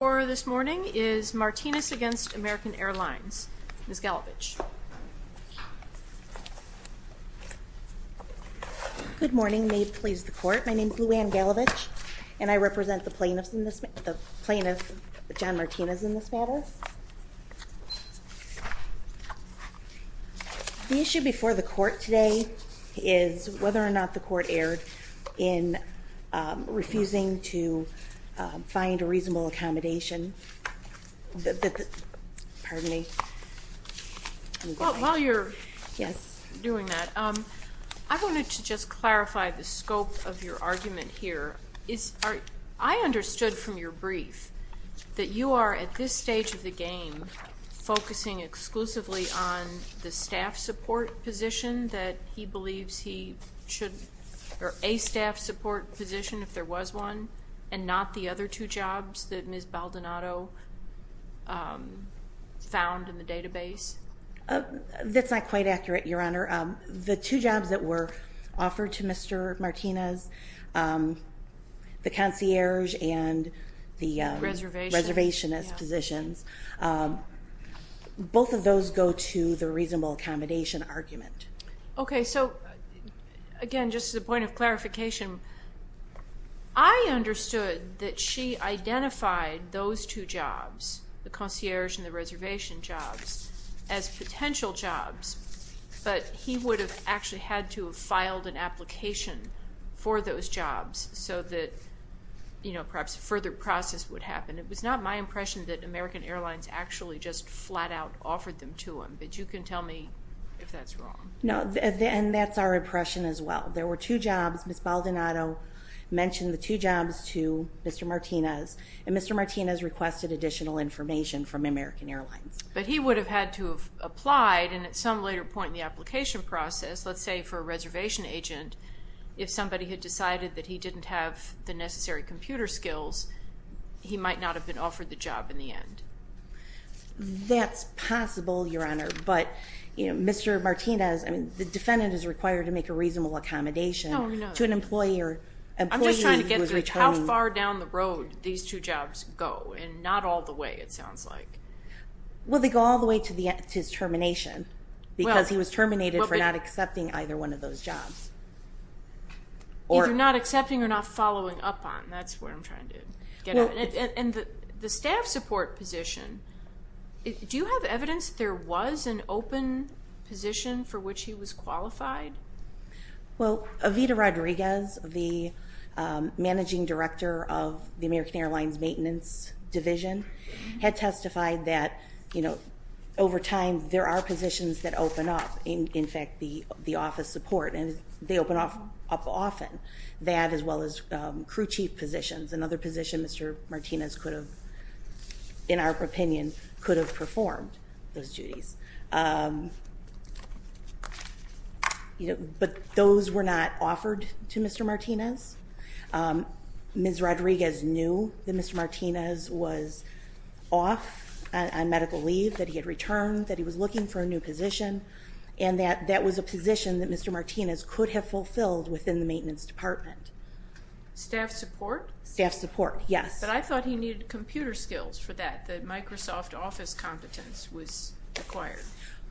Order this morning is Martinez v. American Airlines. Ms. Galevich. Good morning. May it please the court, my name is Lou Anne Galevich and I represent the plaintiffs in this, the plaintiff John Martinez in this matter. The issue before the court today is whether or not the court erred in refusing to find a reasonable accommodation. Pardon me. While you're doing that, I wanted to just clarify the scope of your argument here. I understood from your brief that you are at this stage of the game focusing exclusively on the staff support position that he believes he should, or a staff support position if there was one and not the other two jobs that Ms. Baldonado found in the database. That's not quite accurate, Your Honor. The two jobs that were offered to Mr. Martinez, the concierge and the reservationist positions, both of those go to the reasonable accommodation argument. Okay, so again, just as a point of clarification, I understood that she identified those two jobs, the concierge and the reservation jobs, as potential jobs, but he would have actually had to have filed an application for those jobs so that perhaps a further process would happen. It was not my impression that American Airlines actually just flat out offered them to him, but you can tell me if that's wrong. No, and that's our impression as well. There were two jobs. Ms. Baldonado mentioned the two jobs to Mr. Martinez, and Mr. Martinez requested additional information from American Airlines. But he would have had to have applied, and at some later point in the application process, let's say for a reservation agent, if somebody had decided that he didn't have the necessary computer skills, he might not have been offered the job in the end. That's possible, Your Honor, but Mr. Martinez, the defendant is required to make a reasonable accommodation to an employee. I'm just trying to get through how far down the road these two jobs go, and not all the way, it sounds like. Well, they go all the way to his termination, because he was terminated for not accepting either one of those jobs. Either not accepting or not following up on, that's what I'm trying to get at. And the staff support position, do you have evidence there was an open position for which he was qualified? Well, Evita Rodriguez, the Managing Director of the American Airlines Maintenance Division, had testified that, you know, over time, there are positions that open up. In fact, the office support, and they open up often, that as well as crew chief positions, another position Mr. Martinez could have, in our opinion, could have performed those duties. But those were not offered to Mr. Martinez. Ms. Rodriguez knew that Mr. Martinez was off on medical leave, that he had returned, that he was looking for a new position, and that that was a position that Mr. Martinez could have fulfilled within the maintenance department. Staff support? Staff support, yes. But I thought he needed computer skills for that, that Microsoft Office competence was required.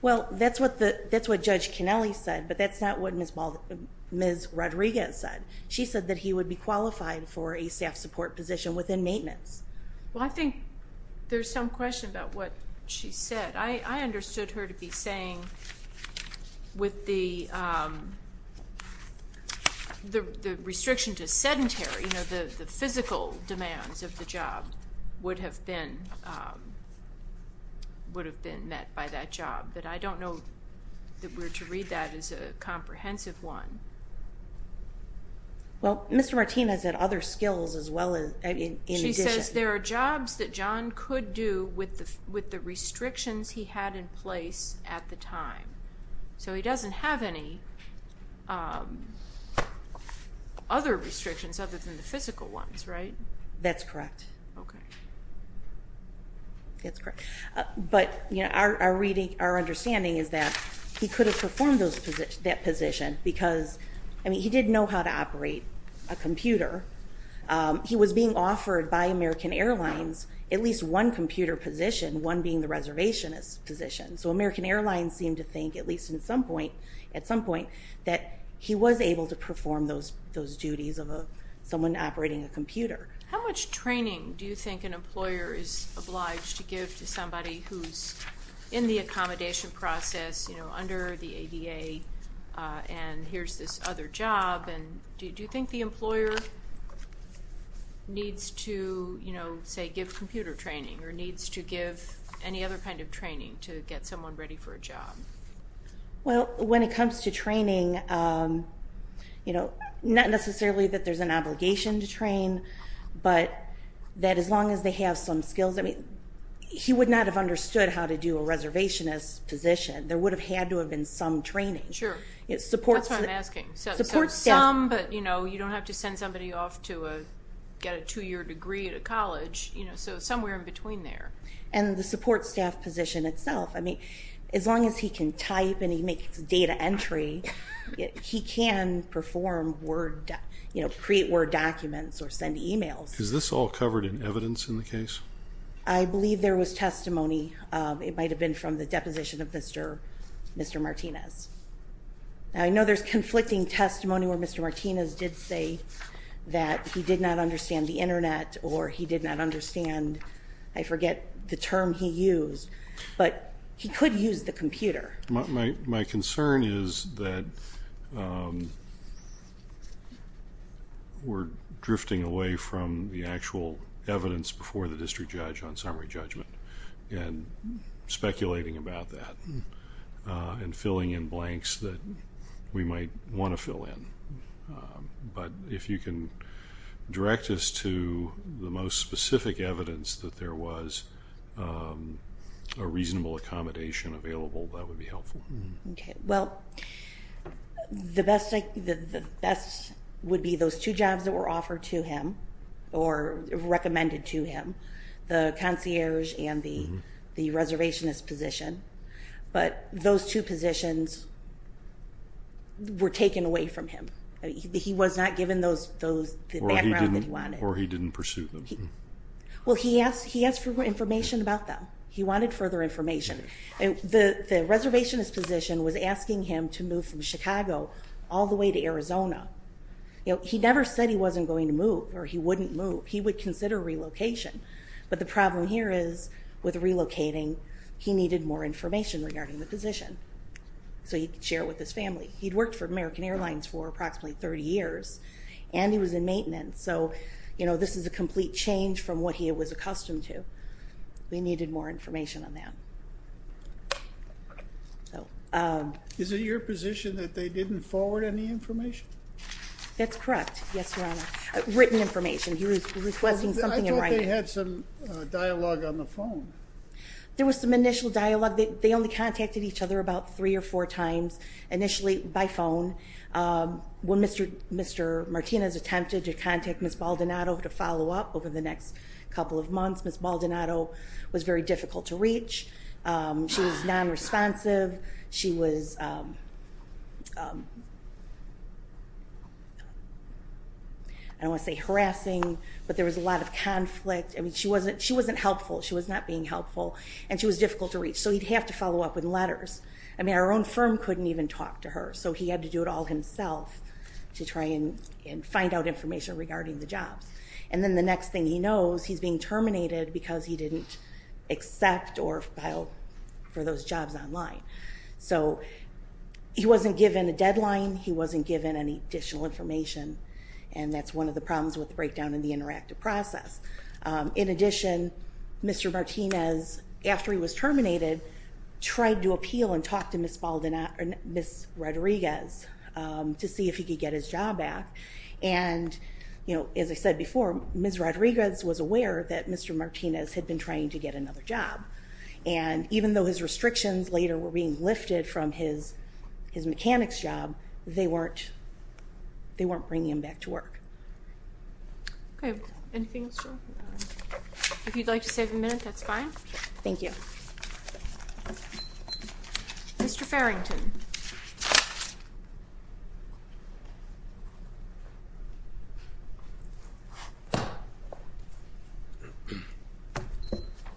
Well, that's what Judge Kennelly said, but that's not what Ms. Rodriguez said. She said that he would be qualified for a staff support position within maintenance. Well, I think there's some question about what she said. I understood her to be saying with the restriction to sedentary, you know, the physical demands of the job would have been met by that job. But I don't know that we're to read that as a comprehensive one. Well, Mr. Martinez had other skills as well in addition. She says there are jobs that John could do with the restrictions he had in place at the time. So he doesn't have any other restrictions other than the physical ones, right? That's correct. Okay. That's correct. But, you know, our understanding is that he could have performed that position because, I mean, he did know how to operate a computer. He was being offered by American Airlines at least one computer position, one being the reservationist position. So American Airlines seemed to think, at least at some point, that he was able to perform those duties of someone operating a computer. How much training do you think an employer is obliged to give to somebody who's in the accommodation process, you know, under the ADA, and here's this other job? And do you think the employer needs to, you know, say give computer training or needs to give any other kind of training to get someone ready for a job? Well, when it comes to training, you know, not necessarily that there's an obligation to train, but that as long as they have some skills. I mean, he would not have understood how to do a reservationist position. There would have had to have been some training. Sure. That's what I'm asking. Support staff. Some, but, you know, you don't have to send somebody off to get a two-year degree at a college, you know, so somewhere in between there. And the support staff position itself. I mean, as long as he can type and he makes data entry, he can perform Word, you know, create Word documents or send emails. Is this all covered in evidence in the case? I believe there was testimony. It might have been from the deposition of Mr. Martinez. I know there's conflicting testimony where Mr. Martinez did say that he did not understand the Internet or he did not understand, I forget the term he used, but he could use the computer. My concern is that we're drifting away from the actual evidence before the district judge on summary judgment and speculating about that and filling in blanks that we might want to fill in. But if you can direct us to the most specific evidence that there was a reasonable accommodation available, that would be helpful. Okay. Well, the best would be those two jobs that were offered to him or recommended to him, the concierge and the reservationist position. But those two positions were taken away from him. He was not given the background that he wanted. Or he didn't pursue them. Well, he asked for information about them. He wanted further information. The reservationist position was asking him to move from Chicago all the way to Arizona. He never said he wasn't going to move or he wouldn't move. He would consider relocation. But the problem here is with relocating, he needed more information regarding the position so he could share it with his family. He'd worked for American Airlines for approximately 30 years, and he was in maintenance. So this is a complete change from what he was accustomed to. He needed more information on that. Is it your position that they didn't forward any information? That's correct, yes, Your Honor. Written information. He was requesting something in writing. I thought they had some dialogue on the phone. There was some initial dialogue. They only contacted each other about three or four times initially by phone. When Mr. Martinez attempted to contact Ms. Baldonado to follow up over the next couple of months, Ms. Baldonado was very difficult to reach. She was nonresponsive. She was, I don't want to say harassing, but there was a lot of conflict. I mean, she wasn't helpful. She was not being helpful, and she was difficult to reach. So he'd have to follow up with letters. I mean, our own firm couldn't even talk to her. So he had to do it all himself to try and find out information regarding the jobs. And then the next thing he knows, he's being terminated because he didn't accept or file for those jobs online. So he wasn't given a deadline. He wasn't given any additional information, and that's one of the problems with the breakdown in the interactive process. In addition, Mr. Martinez, after he was terminated, tried to appeal and talk to Ms. Rodriguez to see if he could get his job back. And as I said before, Ms. Rodriguez was aware that Mr. Martinez had been trying to get another job. And even though his restrictions later were being lifted from his mechanics job, they weren't bringing him back to work. Okay. Anything else? If you'd like to save a minute, that's fine. Thank you. Mr. Farrington.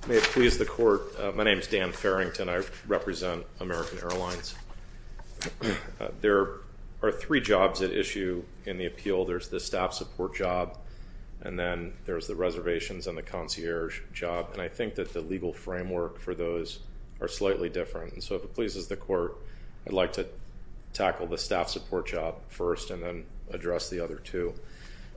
May it please the Court, my name is Dan Farrington. I represent American Airlines. There are three jobs at issue in the appeal. There's the staff support job, and then there's the reservations and the concierge job. And I think that the legal framework for those are slightly different. And so if it pleases the Court, I'd like to tackle the staff support job first and then address the other two.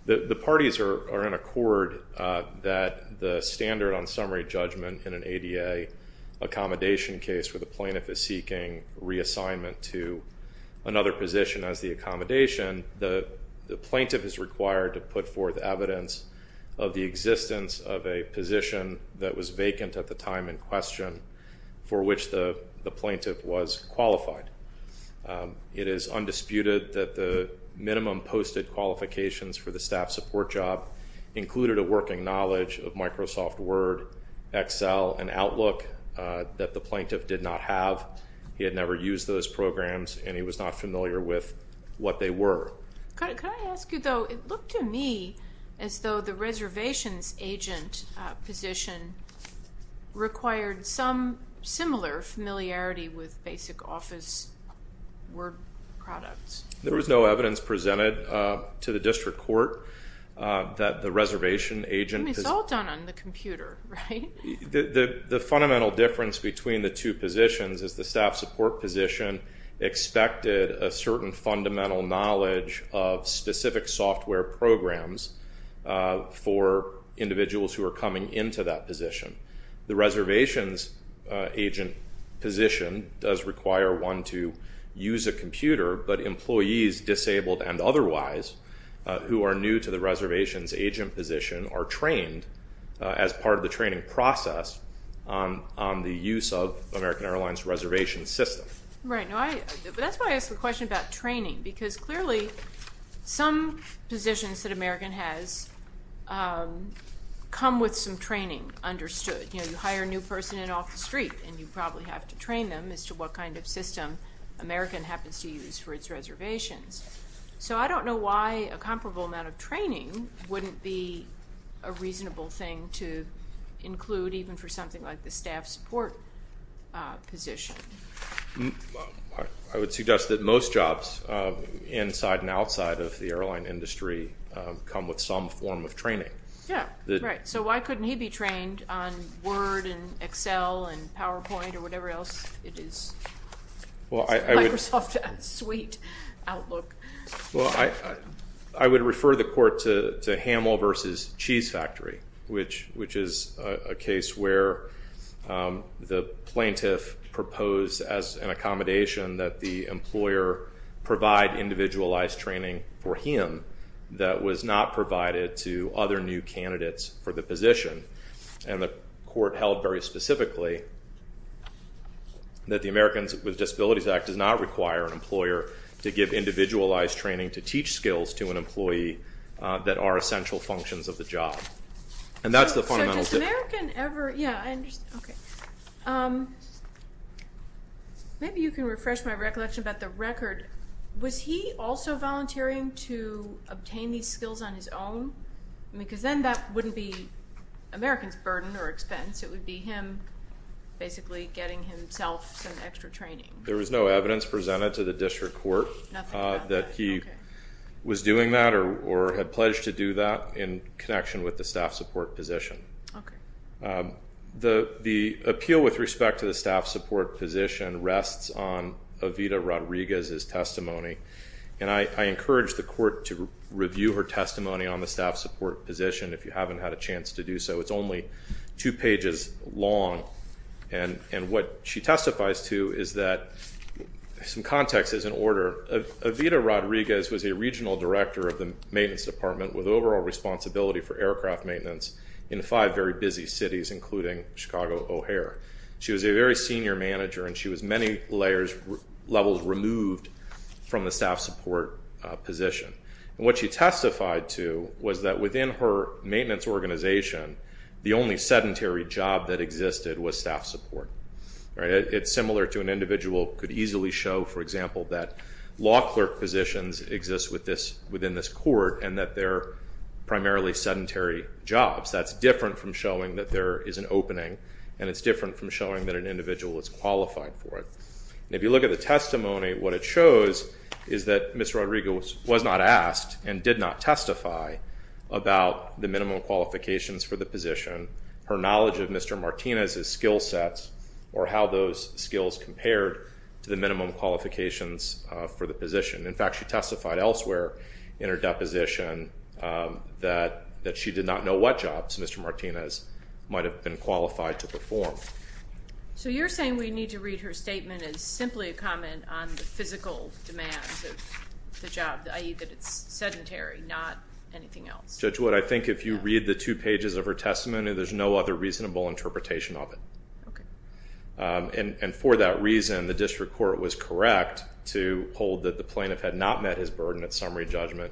The parties are in accord that the standard on summary judgment in an ADA accommodation case where the plaintiff is seeking reassignment to another position as the accommodation, the plaintiff is required to put forth evidence of the existence of a position that was vacant at the time in question for which the plaintiff was qualified. It is undisputed that the minimum posted qualifications for the staff support job included a working knowledge of Microsoft Word, Excel, and Outlook that the plaintiff did not have. He had never used those programs and he was not familiar with what they were. Could I ask you, though, it looked to me as though the reservations agent position required some similar familiarity with basic office Word products. There was no evidence presented to the district court that the reservation agent. I mean, it's all done on the computer, right? The fundamental difference between the two positions is the staff support position expected a certain fundamental knowledge of specific software programs for individuals who are coming into that position. The reservations agent position does require one to use a computer, but employees disabled and otherwise who are new to the reservations agent position are trained as part of the training process on the use of American Airlines reservation system. That's why I asked the question about training because clearly some positions that American has come with some training understood. You hire a new person in off the street and you probably have to train them as to what kind of system American happens to use for its reservations. So I don't know why a comparable amount of training wouldn't be a reasonable thing to include even for something like the staff support position. I would suggest that most jobs inside and outside of the airline industry come with some form of training. So why couldn't he be trained on Word and Excel and PowerPoint or whatever else it is? I would refer the court to Hamel versus Cheese Factory, which is a case where the plaintiff proposed as an accommodation that the employer provide individualized training for him that was not provided to other new candidates for the position. And the court held very specifically that the Americans with Disabilities Act does not require an employer to give individualized training to teach skills to an employee that are essential functions of the job. And that's the fundamental difference. So does American ever, yeah I understand, okay. Maybe you can refresh my recollection about the record. Was he also volunteering to obtain these skills on his own? Because then that wouldn't be American's burden or expense. It would be him basically getting himself some extra training. There was no evidence presented to the district court that he was doing that or had pledged to do that in connection with the staff support position. The appeal with respect to the staff support position rests on Evita Rodriguez's testimony. And I encourage the court to review her testimony on the staff support position if you haven't had a chance to do so. It's only two pages long. And what she testifies to is that some context is in order. Evita Rodriguez was a regional director of the maintenance department with overall responsibility for aircraft maintenance in five very busy cities, including Chicago O'Hare. She was a very senior manager and she was many levels removed from the staff support position. And what she testified to was that within her maintenance organization, the only sedentary job that existed was staff support. It's similar to an individual could easily show, for example, that law clerk positions exist within this court and that they're primarily sedentary jobs. That's different from showing that there is an opening and it's different from showing that an individual is qualified for it. And if you look at the testimony, what it shows is that Ms. Rodriguez was not asked and did not testify about the minimum qualifications for the position. Her knowledge of Mr. Martinez's skill sets or how those skills compared to the minimum qualifications for the position. In fact, she testified elsewhere in her deposition that she did not know what jobs Mr. Martinez might have been qualified to perform. So you're saying we need to read her statement as simply a comment on the physical demands of the job, i.e. that it's sedentary, not anything else? Judge Wood, I think if you read the two pages of her testimony, there's no other reasonable interpretation of it. Okay. And for that reason, the district court was correct to hold that the plaintiff had not met his burden at summary judgment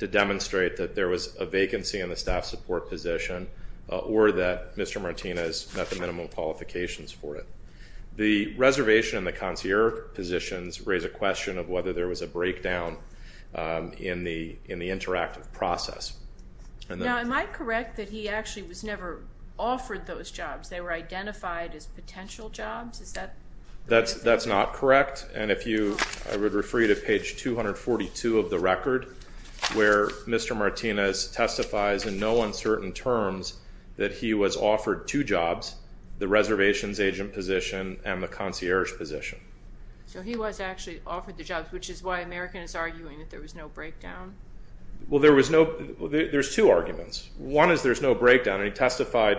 to demonstrate that there was a vacancy in the staff support position or that Mr. Martinez met the minimum qualifications for it. The reservation and the concierge positions raise a question of whether there was a breakdown in the interactive process. Now, am I correct that he actually was never offered those jobs? They were identified as potential jobs? Is that correct? That's not correct. And if you, I would refer you to page 242 of the record where Mr. Martinez testifies in no uncertain terms that he was offered two jobs, the reservations agent position and the concierge position. So he was actually offered the jobs, which is why American is arguing that there was no breakdown? Well, there was no, there's two arguments. One is there's no breakdown, and he testified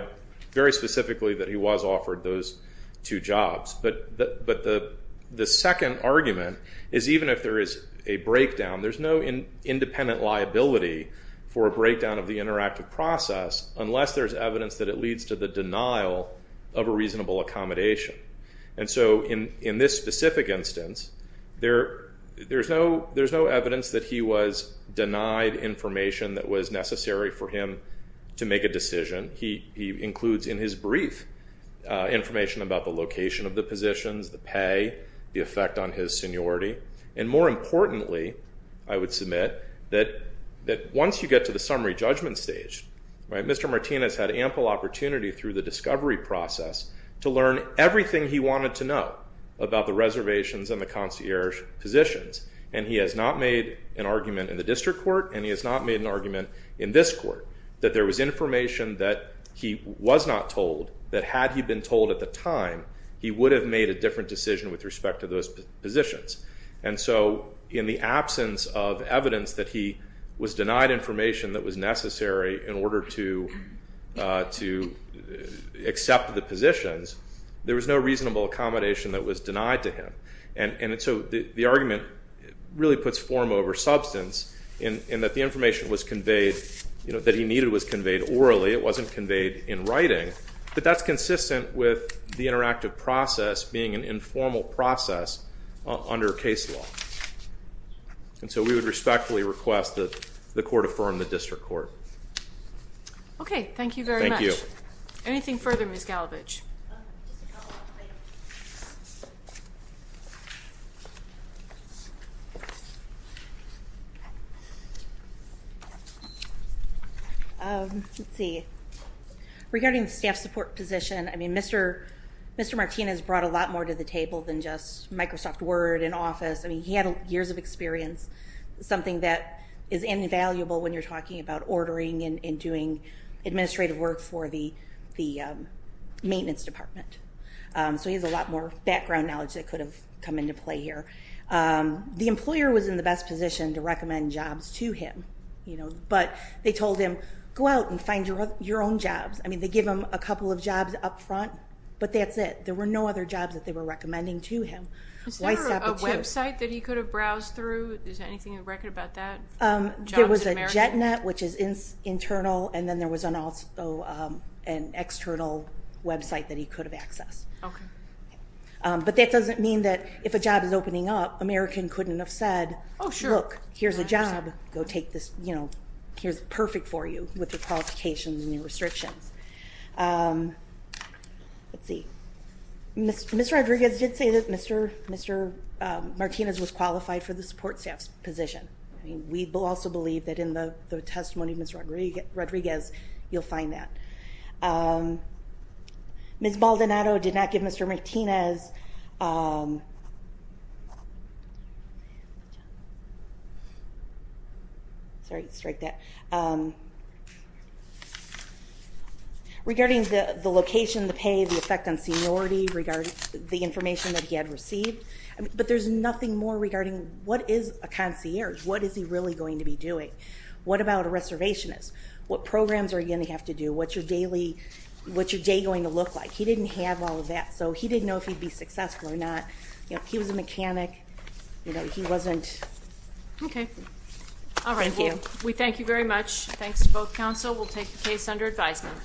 very specifically that he was offered those two jobs. But the second argument is even if there is a breakdown, there's no independent liability for a breakdown of the interactive process unless there's evidence that it leads to the denial of a reasonable accommodation. And so in this specific instance, there's no evidence that he was denied information that was necessary for him to make a decision. He includes in his brief information about the location of the positions, the pay, the effect on his seniority, and more importantly, I would submit that once you get to the summary judgment stage, Mr. Martinez had ample opportunity through the discovery process to learn everything he wanted to know about the reservations and the concierge positions. And he has not made an argument in the district court, and he has not made an argument in this court, that there was information that he was not told that had he been told at the time, he would have made a different decision with respect to those positions. And so in the absence of evidence that he was denied information that was necessary in order to accept the positions, there was no reasonable accommodation that was denied to him. And so the argument really puts form over substance in that the information was conveyed, you know, that he needed was conveyed orally. It wasn't conveyed in writing, but that's consistent with the interactive process being an informal process under case law. And so we would respectfully request that the court affirm the district court. Okay, thank you very much. Thank you. Anything further, Ms. Galovich? Let's see. Regarding the staff support position, I mean, Mr. Martinez brought a lot more to the table than just Microsoft Word and Office. I mean, he had years of experience. that is invaluable when you're talking about ordering and doing administrative work for the maintenance department. So he has a lot more background knowledge that could have come into play here. The employer was in the best position to recommend jobs to him, you know, but they told him, go out and find your own jobs. I mean, they give him a couple of jobs up front, but that's it. There were no other jobs that they were recommending to him. Is there a website that he could have browsed through? Is there anything in the record about that? There was a JetNet, which is internal, and then there was an external website that he could have accessed. Okay. But that doesn't mean that if a job is opening up, American couldn't have said, look, here's a job, go take this, you know, here's perfect for you with your qualifications and your restrictions. Let's see. Mr. Rodriguez did say that Mr. Martinez was qualified for the support staff position. I mean, we also believe that in the testimony of Mr. Rodriguez, you'll find that. Ms. Maldonado did not give Mr. Martinez. Sorry, strike that. Regarding the location, the pay, the effect on seniority, regarding the information that he had received, but there's nothing more regarding what is a concierge? What is he really going to be doing? What about a reservationist? What programs are you going to have to do? What's your day going to look like? He didn't have all of that, so he didn't know if he'd be successful or not. You know, he was a mechanic. You know, he wasn't. Okay. All right. Thank you. We thank you very much. Thanks to both counsel. We'll take the case under advisement.